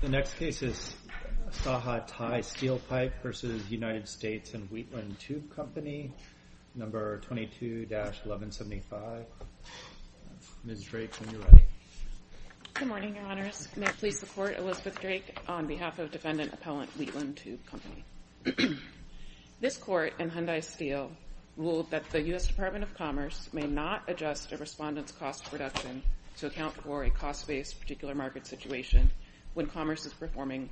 The next case is Saha Thai Steel Pipe v. United States & Wheatland Tube Company, No. 22-1175. Ms. Drake, when you're ready. Good morning, Your Honors. May I please support Elizabeth Drake on behalf of defendant appellant Wheatland Tube Company. This court in Hyundai Steel ruled that the U.S. Department of Commerce may not adjust a respondent's cost reduction to account for a cost-based particular market situation when commerce is performing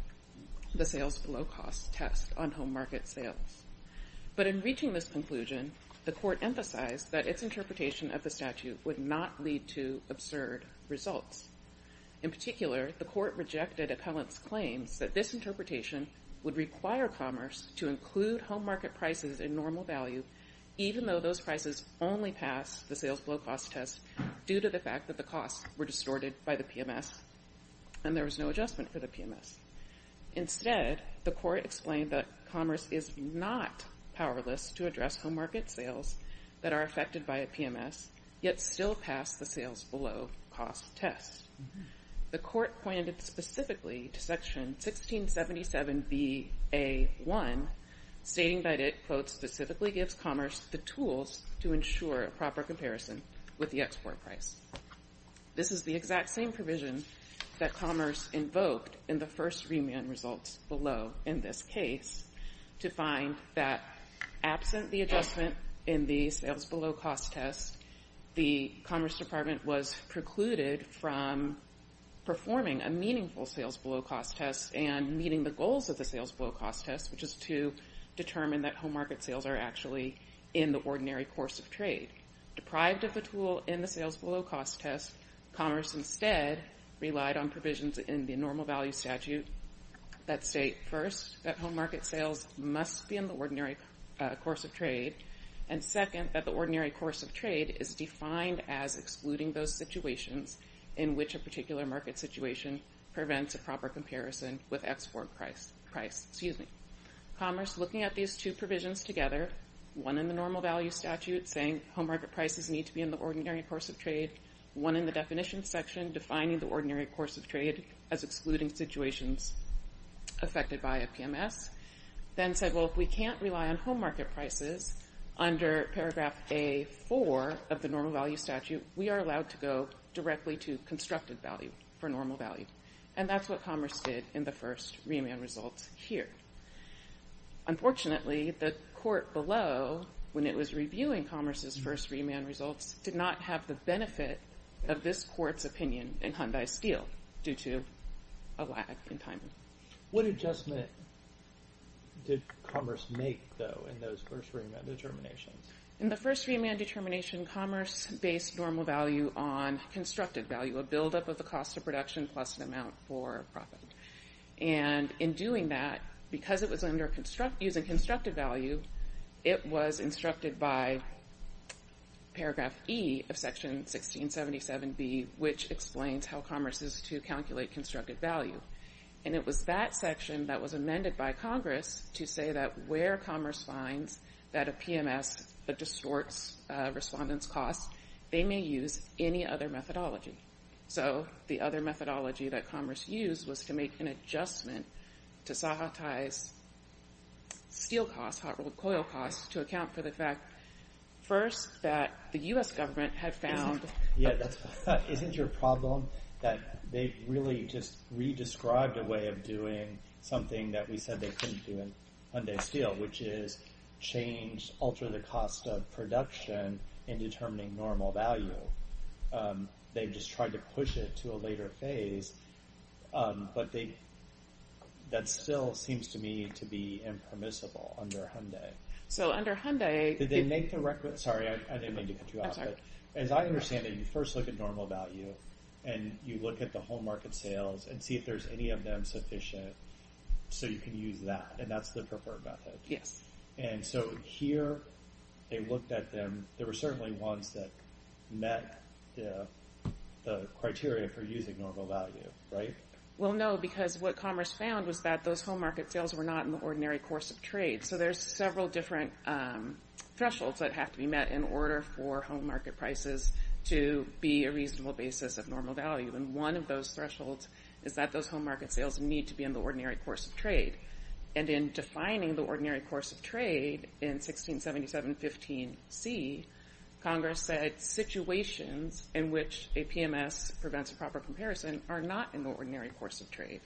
the sales below cost test on home market sales. But in reaching this conclusion, the court emphasized that its interpretation of the statute would not lead to absurd results. In particular, the court rejected appellant's claims that this interpretation would require commerce to include home market prices in normal value even though those prices only pass the sales below cost test due to the fact that the costs were distorted by the PMS and there was no adjustment for the PMS. Instead, the court explained that commerce is not powerless to address home market sales that are affected by a PMS yet still pass the sales below cost test. The court pointed specifically to section 1677 B.A. 1 stating that it, quote, specifically gives commerce the tools to ensure a proper comparison with the export price. This is the exact same provision that commerce invoked in the first remand results below in this case to find that absent the adjustment in the sales below cost test, the Commerce Department was precluded from performing a meaningful sales below cost test and meeting the goals of the sales below cost test, which is to determine that home market sales are actually in the ordinary course of trade. Deprived of the tool in the sales below cost test, commerce instead relied on provisions in the normal value statute that state, first, that home market sales must be in the ordinary course of trade and, second, that the ordinary course of trade is defined as excluding those situations in which a particular market situation prevents a proper comparison with export price. Commerce, looking at these two provisions together, one in the normal value statute saying home market prices need to be in the ordinary course of trade, one in the definition section defining the ordinary course of trade as excluding situations affected by a PMS, then said, well, if we can't rely on home market prices under paragraph A4 of the normal value statute, we are allowed to go directly to constructed value for normal value. And that's what commerce did in the first remand results here. Unfortunately, the court below, when it was reviewing commerce's first remand results, did not have the benefit of this court's opinion in Hyundai Steel due to a lag in timing. What adjustment did commerce make, though, in those first remand determinations? In the first remand determination, commerce based normal value on constructed value, a buildup of the cost of production plus an amount for profit. And in doing that, because it was using constructed value, it was instructed by paragraph E of section 1677B, which explains how commerce is to calculate constructed value. And it was that section that was amended by Congress to say that where commerce finds that a PMS distorts respondents' costs, they may use any other methodology. So the other methodology that commerce used was to make an adjustment to sanitize steel costs, hot-rod coil costs, to account for the fact, first, that the U.S. government had found... Yeah, isn't your problem that they really just re-described a way of doing something that we said they couldn't do in Hyundai Steel, which is change, alter the cost of production in determining normal value. They just tried to push it to a later phase, but that still seems to me to be impermissible under Hyundai. So under Hyundai... Did they make the requisite... Sorry, I didn't mean to cut you off. As I understand it, you first look at normal value, and you look at the home market sales, and see if there's any of them sufficient so you can use that, and that's the preferred method. Yes. And so here, they looked at them, there were certainly ones that met the criteria for using normal value, right? Well, no, because what commerce found was that those home market sales were not in the ordinary course of trade. So there's several different thresholds that have to be met in order for home market prices to be a reasonable basis of normal value. And one of those thresholds is that those home market sales need to be in the ordinary course of trade. And in defining the ordinary course of trade in 1677.15c, Congress said situations in which a PMS prevents a proper comparison are not in the ordinary course of trade.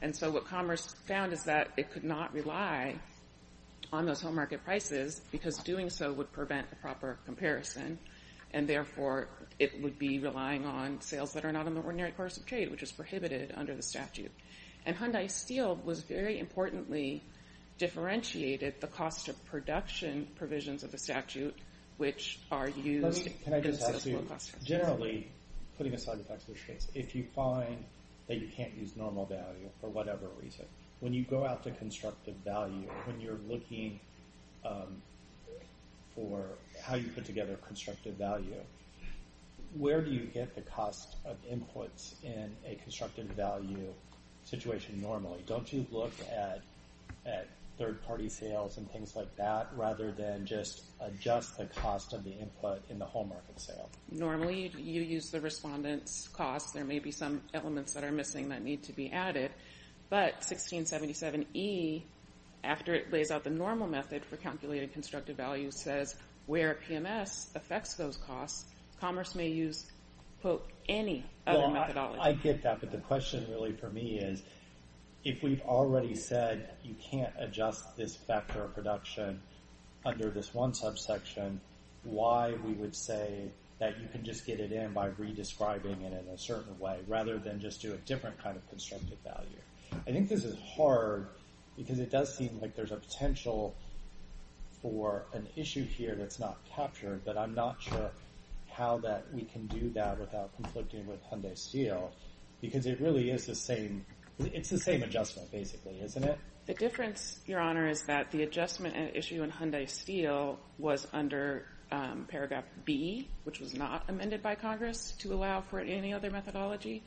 And so what commerce found is that it could not rely on those home market prices, because doing so would prevent a proper comparison, and therefore it would be relying on sales that are not in the ordinary course of trade, which is prohibited under the statute. And Hyundai Steel was very importantly differentiated the cost of production provisions of the statute, which are used in the sales law class. Generally, putting aside the fact that if you find that you can't use normal value for whatever reason, when you go out to constructive value, when you're looking for how you put together constructive value, where do you get the cost of inputs in a constructive value situation normally? Don't you look at third-party sales and things like that, rather than just adjust the cost of the input in the home market sale? Normally, you use the respondent's costs. There may be some elements that are missing that need to be added. But 1677E, after it lays out the normal method for calculating constructive value, says where PMS affects those costs. Commerce may use, quote, any other methodology. I get that, but the question really for me is, if we've already said you can't adjust this factor of production under this one subsection, why we would say that you can just get it in by re-describing it in a certain way, rather than just do a different kind of constructive value? I think this is hard, because it does seem like there's a potential for an issue here that's not captured, but I'm not sure how we can do that without conflicting with Hyundai Steel, because it really is the same adjustment, basically, isn't it? The difference, Your Honor, is that the adjustment issue in Hyundai Steel was under Paragraph B, which was not amended by Congress to allow for any other methodology,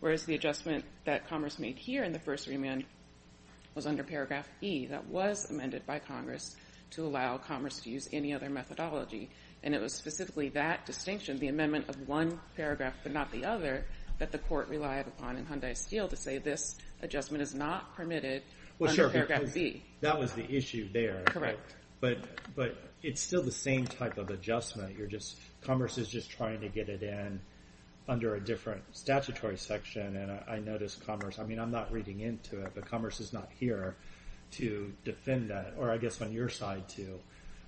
whereas the adjustment that Commerce made here in the first remand was under Paragraph E that was amended by Congress to allow Commerce to use any other methodology. And it was specifically that distinction, the amendment of one paragraph but not the other, that the court relied upon in Hyundai Steel to say this adjustment is not permitted under Paragraph B. That was the issue there, but it's still the same type of adjustment. Commerce is just trying to get it in under a different statutory section, and I notice Commerce—I mean, I'm not reading into it, but Commerce is not here to defend that, or I guess on your side to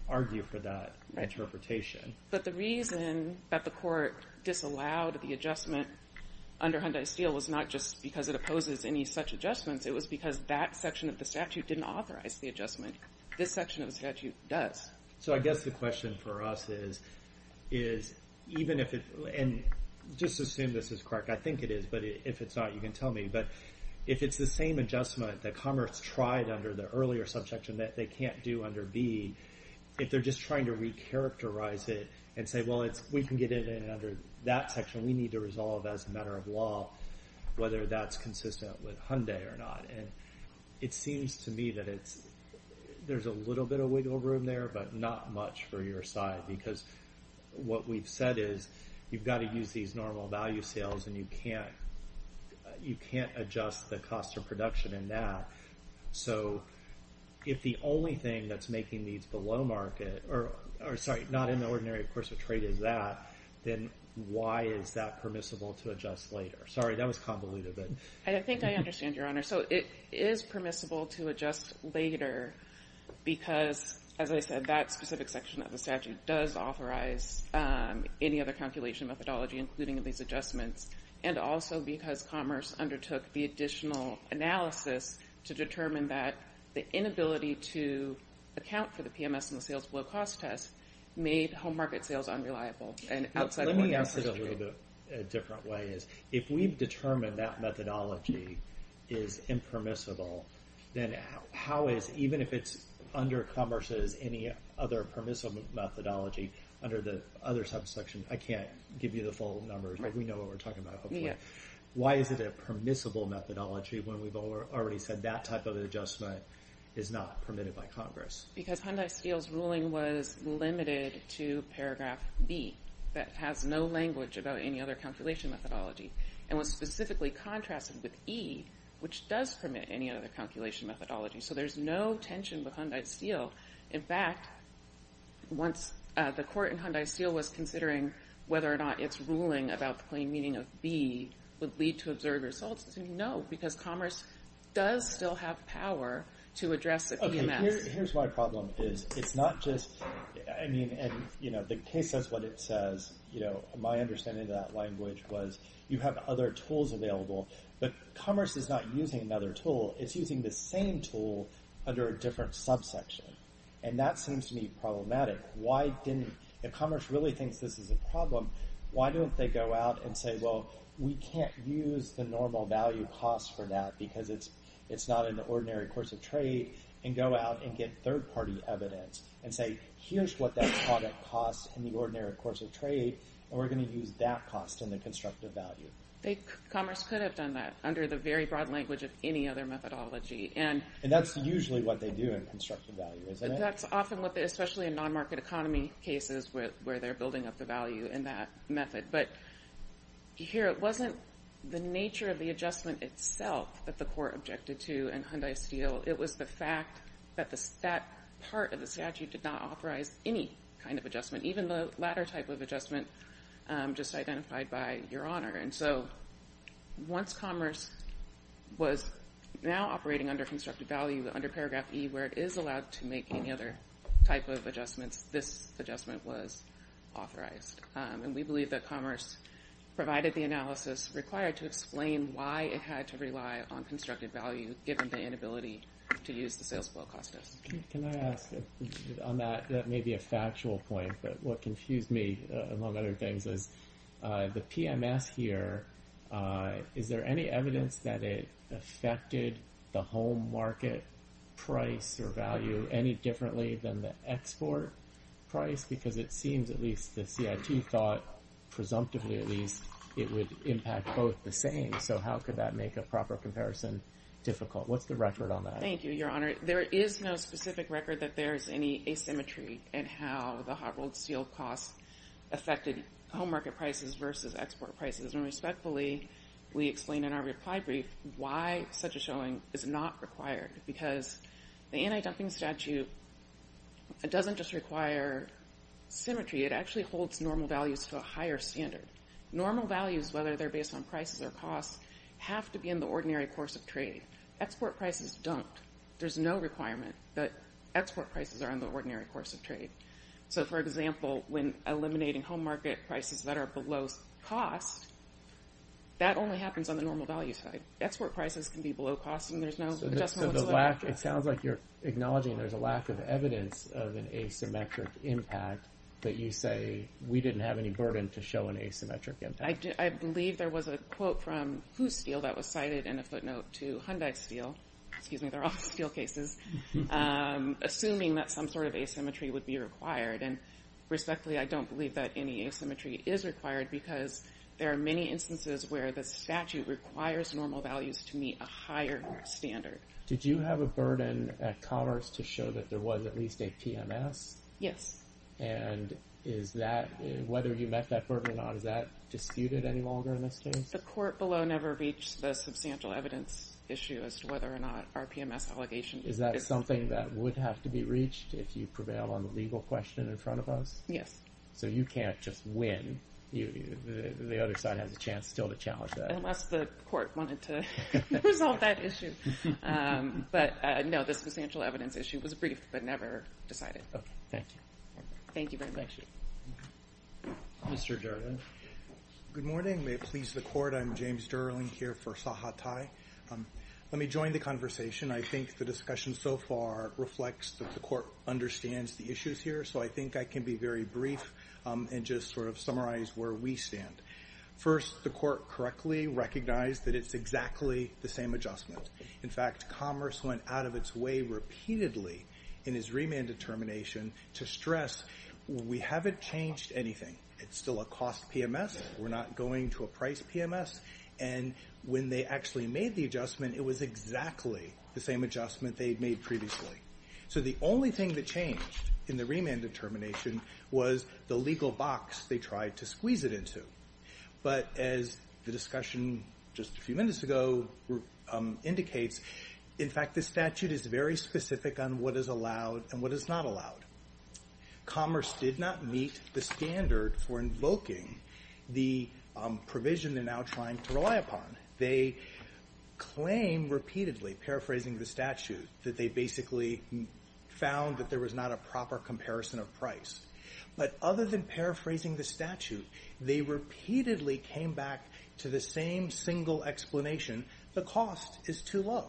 argue for that interpretation. But the reason that the court disallowed the adjustment under Hyundai Steel was not just because it opposes any such adjustments. It was because that section of the statute didn't authorize the adjustment. This section of the statute does. So I guess the question for us is even if it—and just assume this is correct. I think it is, but if it's not, you can tell me. But if it's the same adjustment that Commerce tried under the earlier subsection that they can't do under B, if they're just trying to recharacterize it and say, well, we can get it in under that section. We need to resolve as a matter of law whether that's consistent with Hyundai or not. And it seems to me that there's a little bit of wiggle room there but not much for your side because what we've said is you've got to use these normal value sales, and you can't adjust the cost of production in that. So if the only thing that's making these below market—or, sorry, not in the ordinary, of course, but trade is that, then why is that permissible to adjust later? Sorry, that was convoluted. I think I understand, Your Honor. So it is permissible to adjust later because, as I said, that specific section of the statute does authorize any other calculation methodology, including these adjustments, and also because Commerce undertook the additional analysis to determine that the inability to account for the PMS and the sales below cost test made home market sales unreliable and outside of— Let me ask it a little bit a different way. If we've determined that methodology is impermissible, then how is—even if it's under Commerce's—any other permissible methodology under the other subsection— I can't give you the full numbers, but we know what we're talking about, hopefully. Why is it a permissible methodology when we've already said that type of adjustment is not permitted by Congress? Because Hyundai Steel's ruling was limited to paragraph B that has no language about any other calculation methodology and was specifically contrasted with E, which does permit any other calculation methodology. So there's no tension with Hyundai Steel. In fact, once the court in Hyundai Steel was considering whether or not its ruling about the plain meaning of B would lead to absurd results, no, because Commerce does still have power to address the PMS. Here's my problem is it's not just—I mean, and the case says what it says. My understanding of that language was you have other tools available, but Commerce is not using another tool. It's using the same tool under a different subsection, and that seems to me problematic. Why didn't—if Commerce really thinks this is a problem, why don't they go out and say, well, we can't use the normal value cost for that because it's not an ordinary course of trade and go out and get third-party evidence and say, here's what that product costs in the ordinary course of trade, and we're going to use that cost in the constructive value? Commerce could have done that under the very broad language of any other methodology. And that's usually what they do in constructive value, isn't it? That's often what they—especially in non-market economy cases where they're building up the value in that method. But here it wasn't the nature of the adjustment itself that the court objected to in Hyundai Steel. It was the fact that that part of the statute did not authorize any kind of adjustment, even the latter type of adjustment just identified by Your Honor. And so once Commerce was now operating under constructive value, under paragraph E, where it is allowed to make any other type of adjustments, this adjustment was authorized. And we believe that Commerce provided the analysis required to explain why it had to rely on constructive value given the inability to use the sales flow cost test. Can I ask, on that—that may be a factual point, but what confused me, among other things, is the PMS here, is there any evidence that it affected the home market price or value any differently than the export price? Because it seems at least the CIT thought, presumptively at least, it would impact both the same. So how could that make a proper comparison difficult? What's the record on that? Thank you, Your Honor. There is no specific record that there's any asymmetry in how the Harvold Steel cost affected home market prices versus export prices. And respectfully, we explain in our reply brief why such a showing is not required, because the anti-dumping statute doesn't just require symmetry. It actually holds normal values to a higher standard. Normal values, whether they're based on prices or costs, have to be in the ordinary course of trade. Export prices don't. There's no requirement that export prices are in the ordinary course of trade. So, for example, when eliminating home market prices that are below cost, that only happens on the normal value side. Export prices can be below cost, and there's no adjustment whatsoever. So the lack—it sounds like you're acknowledging there's a lack of evidence of an asymmetric impact, but you say we didn't have any burden to show an asymmetric impact. I believe there was a quote from Hoos Steel that was cited in a footnote to Hyundai Steel— excuse me, they're all steel cases—assuming that some sort of asymmetry would be required. And respectfully, I don't believe that any asymmetry is required, because there are many instances where the statute requires normal values to meet a higher standard. Did you have a burden at Commerce to show that there was at least a PMS? Yes. And is that—whether you met that burden or not—is that disputed any longer in this case? The court below never reached the substantial evidence issue as to whether or not our PMS allegation— Is that something that would have to be reached if you prevail on the legal question in front of us? Yes. So you can't just win. The other side has a chance still to challenge that. Unless the court wanted to resolve that issue. But, no, the substantial evidence issue was brief, but never decided. Okay. Thank you. Thank you very much. Mr. Durden. Good morning. May it please the Court, I'm James Durden here for Sahatai. Let me join the conversation. I think the discussion so far reflects that the Court understands the issues here, so I think I can be very brief and just sort of summarize where we stand. First, the Court correctly recognized that it's exactly the same adjustment. In fact, Commerce went out of its way repeatedly in its remand determination to stress, we haven't changed anything. It's still a cost PMS. We're not going to a price PMS. And when they actually made the adjustment, it was exactly the same adjustment they'd made previously. So the only thing that changed in the remand determination was the legal box they tried to squeeze it into. But as the discussion just a few minutes ago indicates, in fact, the statute is very specific on what is allowed and what is not allowed. Commerce did not meet the standard for invoking the provision they're now trying to rely upon. They claim repeatedly, paraphrasing the statute, that they basically found that there was not a proper comparison of price. But other than paraphrasing the statute, they repeatedly came back to the same single explanation, the cost is too low.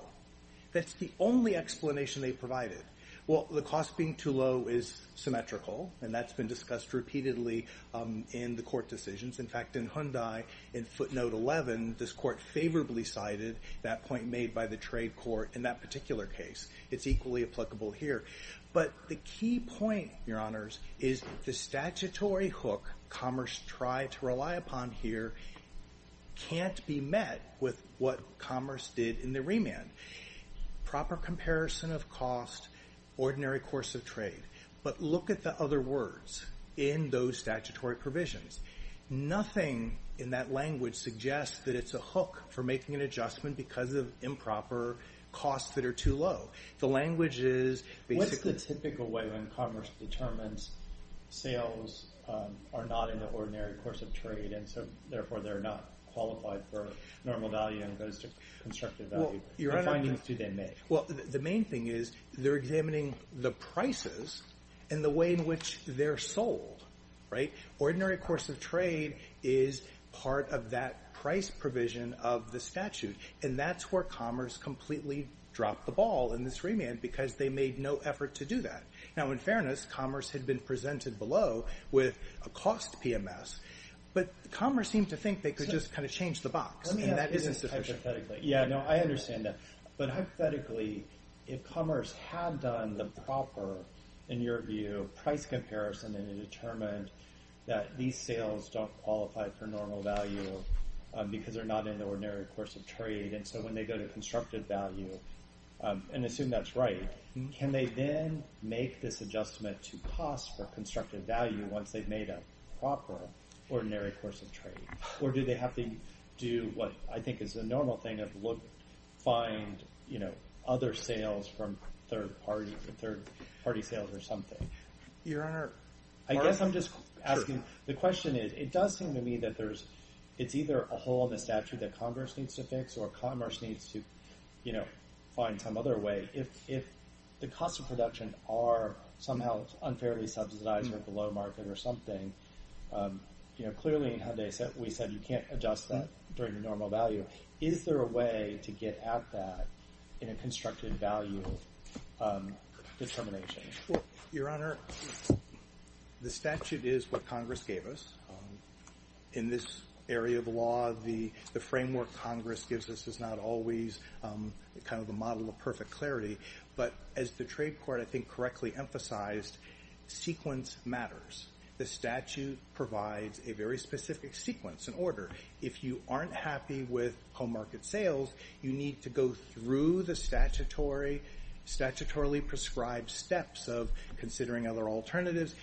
That's the only explanation they provided. Well, the cost being too low is symmetrical, and that's been discussed repeatedly in the Court decisions. In fact, in Hyundai, in footnote 11, this Court favorably cited that point made by the trade court in that particular case. It's equally applicable here. But the key point, Your Honors, is the statutory hook Commerce tried to rely upon here can't be met with what Commerce did in the remand. Proper comparison of cost, ordinary course of trade. But look at the other words in those statutory provisions. Nothing in that language suggests that it's a hook for making an adjustment because of improper costs that are too low. What's the typical way when Commerce determines sales are not in the ordinary course of trade, and so therefore they're not qualified for normal value and goes to constructive value? What findings do they make? Well, the main thing is they're examining the prices and the way in which they're sold. Ordinary course of trade is part of that price provision of the statute, and that's where Commerce completely dropped the ball in this remand because they made no effort to do that. Now, in fairness, Commerce had been presented below with a cost PMS, but Commerce seemed to think they could just kind of change the box, and that isn't sufficient. Yeah, no, I understand that. But hypothetically, if Commerce had done the proper, in your view, price comparison and determined that these sales don't qualify for normal value because they're not in the ordinary course of trade, and so when they go to constructive value and assume that's right, can they then make this adjustment to cost for constructive value once they've made a proper ordinary course of trade? Or do they have to do what I think is the normal thing of look, find, you know, other sales from third-party sales or something? I guess I'm just asking. The question is it does seem to me that it's either a hole in the statute that Commerce needs to fix or Commerce needs to, you know, find some other way. If the cost of production are somehow unfairly subsidized or below market or something, you know, clearly we said you can't adjust that during normal value. Is there a way to get at that in a constructive value determination? Well, Your Honor, the statute is what Congress gave us. In this area of law, the framework Congress gives us is not always kind of a model of perfect clarity. But as the trade court, I think, correctly emphasized, sequence matters. The statute provides a very specific sequence and order. If you aren't happy with home market sales, you need to go through the statutorily prescribed steps of considering other alternatives.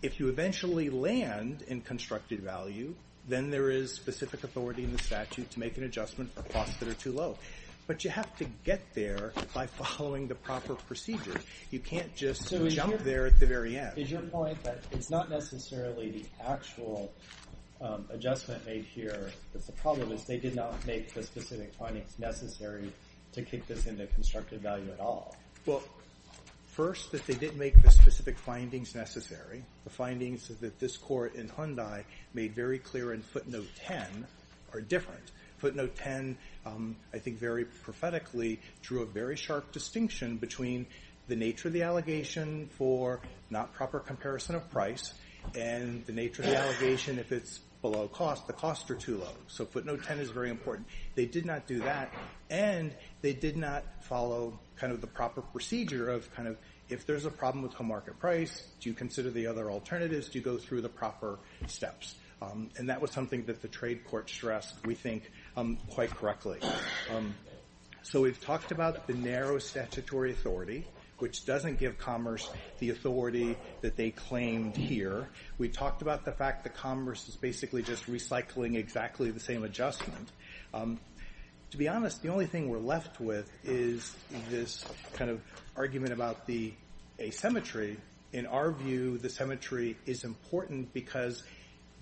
If you eventually land in constructive value, then there is specific authority in the statute to make an adjustment for costs that are too low. But you have to get there by following the proper procedures. You can't just jump there at the very end. Is your point that it's not necessarily the actual adjustment made here but the problem is they did not make the specific findings necessary to kick this into constructive value at all? Well, first, that they didn't make the specific findings necessary. The findings that this court in Hyundai made very clear in footnote 10 are different. Footnote 10, I think very prophetically, drew a very sharp distinction between the nature of the allegation for not proper comparison of price and the nature of the allegation if it's below cost, the costs are too low. So footnote 10 is very important. They did not do that, and they did not follow the proper procedure of if there's a problem with home market price, do you consider the other alternatives? Do you go through the proper steps? And that was something that the trade court stressed, we think, quite correctly. So we've talked about the narrow statutory authority, which doesn't give commerce the authority that they claimed here. We talked about the fact that commerce is basically just recycling exactly the same adjustment. To be honest, the only thing we're left with is this kind of argument about the asymmetry. In our view, the symmetry is important because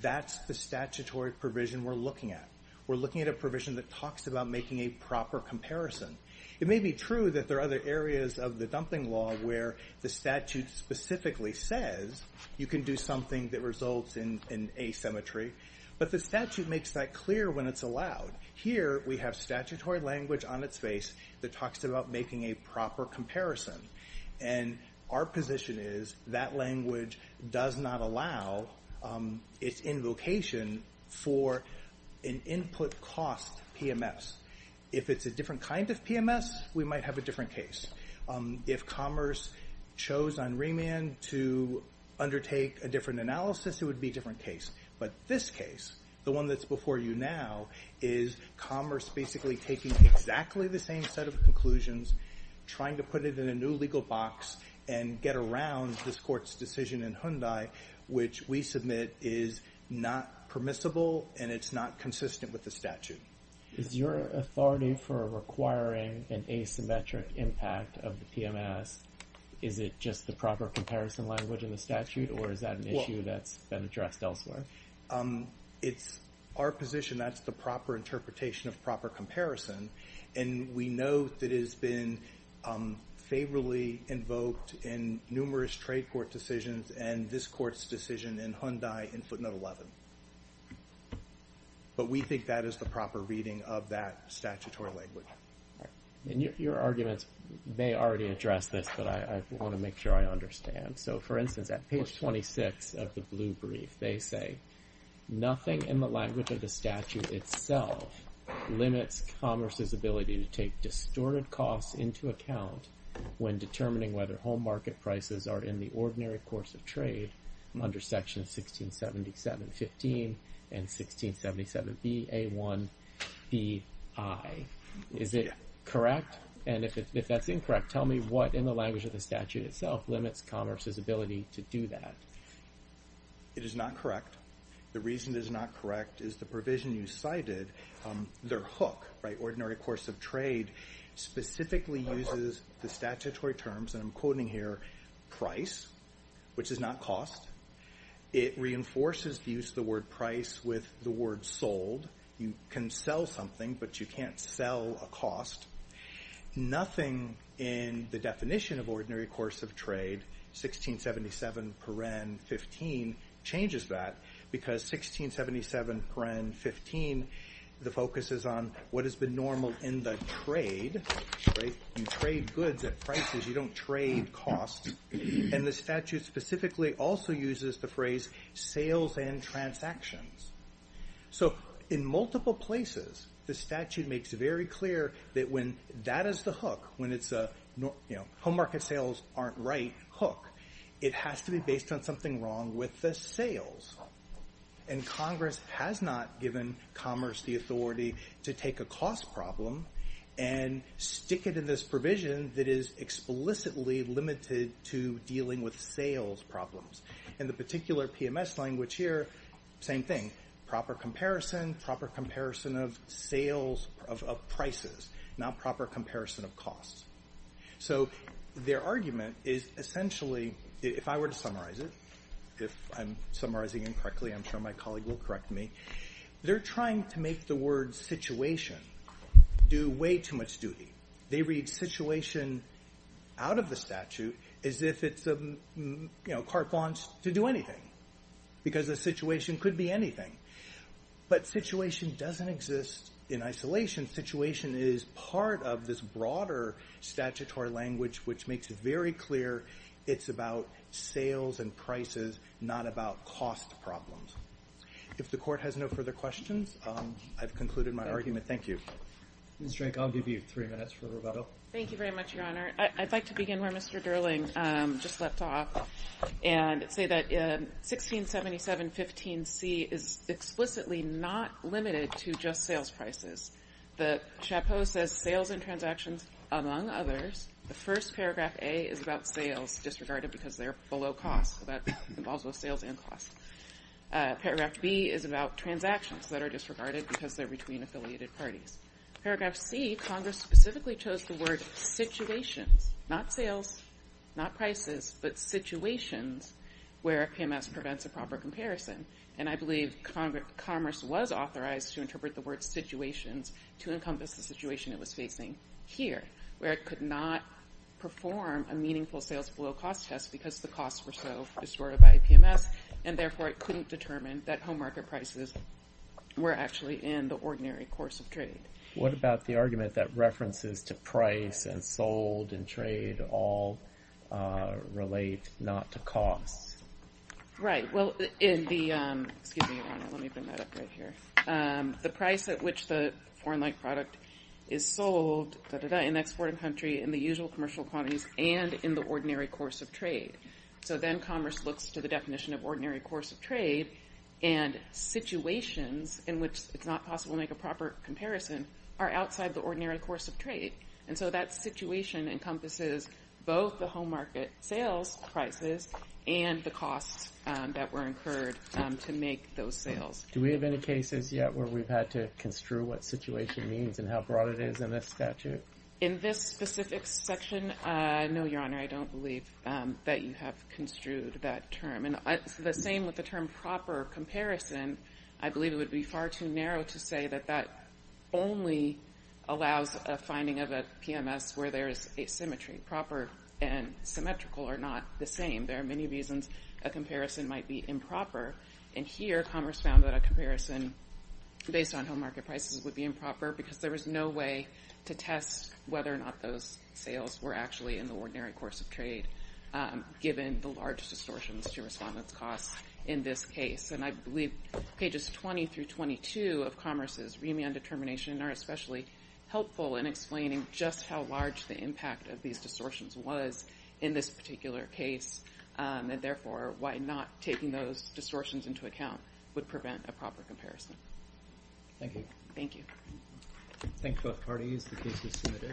that's the statutory provision we're looking at. We're looking at a provision that talks about making a proper comparison. It may be true that there are other areas of the dumping law where the statute specifically says you can do something that results in asymmetry, but the statute makes that clear when it's allowed. Here we have statutory language on its face that talks about making a proper comparison, and our position is that language does not allow its invocation for an input cost PMS. If it's a different kind of PMS, we might have a different case. If commerce chose on remand to undertake a different analysis, it would be a different case. But this case, the one that's before you now, is commerce basically taking exactly the same set of conclusions, trying to put it in a new legal box and get around this court's decision in Hyundai, which we submit is not permissible and it's not consistent with the statute. Is your authority for requiring an asymmetric impact of the PMS, is it just the proper comparison language in the statute or is that an issue that's been addressed elsewhere? It's our position that's the proper interpretation of proper comparison, and we know that it has been favorably invoked in numerous trade court decisions and this court's decision in Hyundai in footnote 11. But we think that is the proper reading of that statutory language. And your arguments may already address this, but I want to make sure I understand. So, for instance, at page 26 of the blue brief, they say, nothing in the language of the statute itself limits commerce's ability to take distorted costs into account when determining whether home market prices are in the ordinary course of trade under sections 1677.15 and 1677.BA1.BI. Is it correct? And if that's incorrect, tell me what in the language of the statute itself limits commerce's ability to do that. It is not correct. The reason it is not correct is the provision you cited. Their hook, ordinary course of trade, specifically uses the statutory terms, and I'm quoting here, price, which is not cost. It reinforces the use of the word price with the word sold. You can sell something, but you can't sell a cost. Nothing in the definition of ordinary course of trade, 1677.15, changes that, because 1677.15, the focus is on what has been normal in the trade. You trade goods at prices. You don't trade costs. And the statute specifically also uses the phrase sales and transactions. So, in multiple places, the statute makes very clear that when that is the hook, when it's a home market sales aren't right hook, it has to be based on something wrong with the sales. And Congress has not given commerce the authority to take a cost problem and stick it in this provision that is explicitly limited to dealing with sales problems. In the particular PMS language here, same thing. Proper comparison, proper comparison of sales of prices, not proper comparison of costs. So, their argument is essentially, if I were to summarize it, if I'm summarizing it correctly, I'm sure my colleague will correct me. They're trying to make the word situation do way too much duty. They read situation out of the statute as if it's carte blanche to do anything, because a situation could be anything. But situation doesn't exist in isolation. Situation is part of this broader statutory language, which makes it very clear it's about sales and prices, not about cost problems. If the court has no further questions, I've concluded my argument. Thank you. Ms. Drake, I'll give you three minutes for rebuttal. Thank you very much, Your Honor. I'd like to begin where Mr. Durling just left off and say that 167715C is explicitly not limited to just sales prices. The chapeau says sales and transactions among others. The first paragraph, A, is about sales disregarded because they're below cost. That involves both sales and cost. Paragraph B is about transactions that are disregarded because they're between affiliated parties. Paragraph C, Congress specifically chose the word situations, not sales, not prices, but situations where PMS prevents a proper comparison. And I believe Congress was authorized to interpret the word situations to encompass the situation it was facing here, where it could not perform a meaningful sales below cost test because the costs were so distorted by PMS, and therefore it couldn't determine that home market prices were actually in the ordinary course of trade. What about the argument that references to price and sold and trade all relate not to cost? Right. Well, in the – excuse me, Your Honor, let me bring that up right here. The price at which the foreign-like product is sold in exporting country in the usual commercial quantities and in the ordinary course of trade. So then Congress looks to the definition of ordinary course of trade, and situations in which it's not possible to make a proper comparison are outside the ordinary course of trade. And so that situation encompasses both the home market sales prices and the costs that were incurred to make those sales. Do we have any cases yet where we've had to construe what situation means and how broad it is in this statute? In this specific section, no, Your Honor, I don't believe that you have construed that term. And the same with the term proper comparison. I believe it would be far too narrow to say that that only allows a finding of a PMS where there is asymmetry. Proper and symmetrical are not the same. There are many reasons a comparison might be improper, and here Congress found that a comparison based on home market prices would be improper because there was no way to test whether or not those sales were actually in the ordinary course of trade, given the large distortions to response costs in this case. And I believe pages 20 through 22 of Congress's remand determination are especially helpful in explaining just how large the impact of these distortions was in this particular case, and therefore why not taking those distortions into account would prevent a proper comparison. Thank you. Thank you.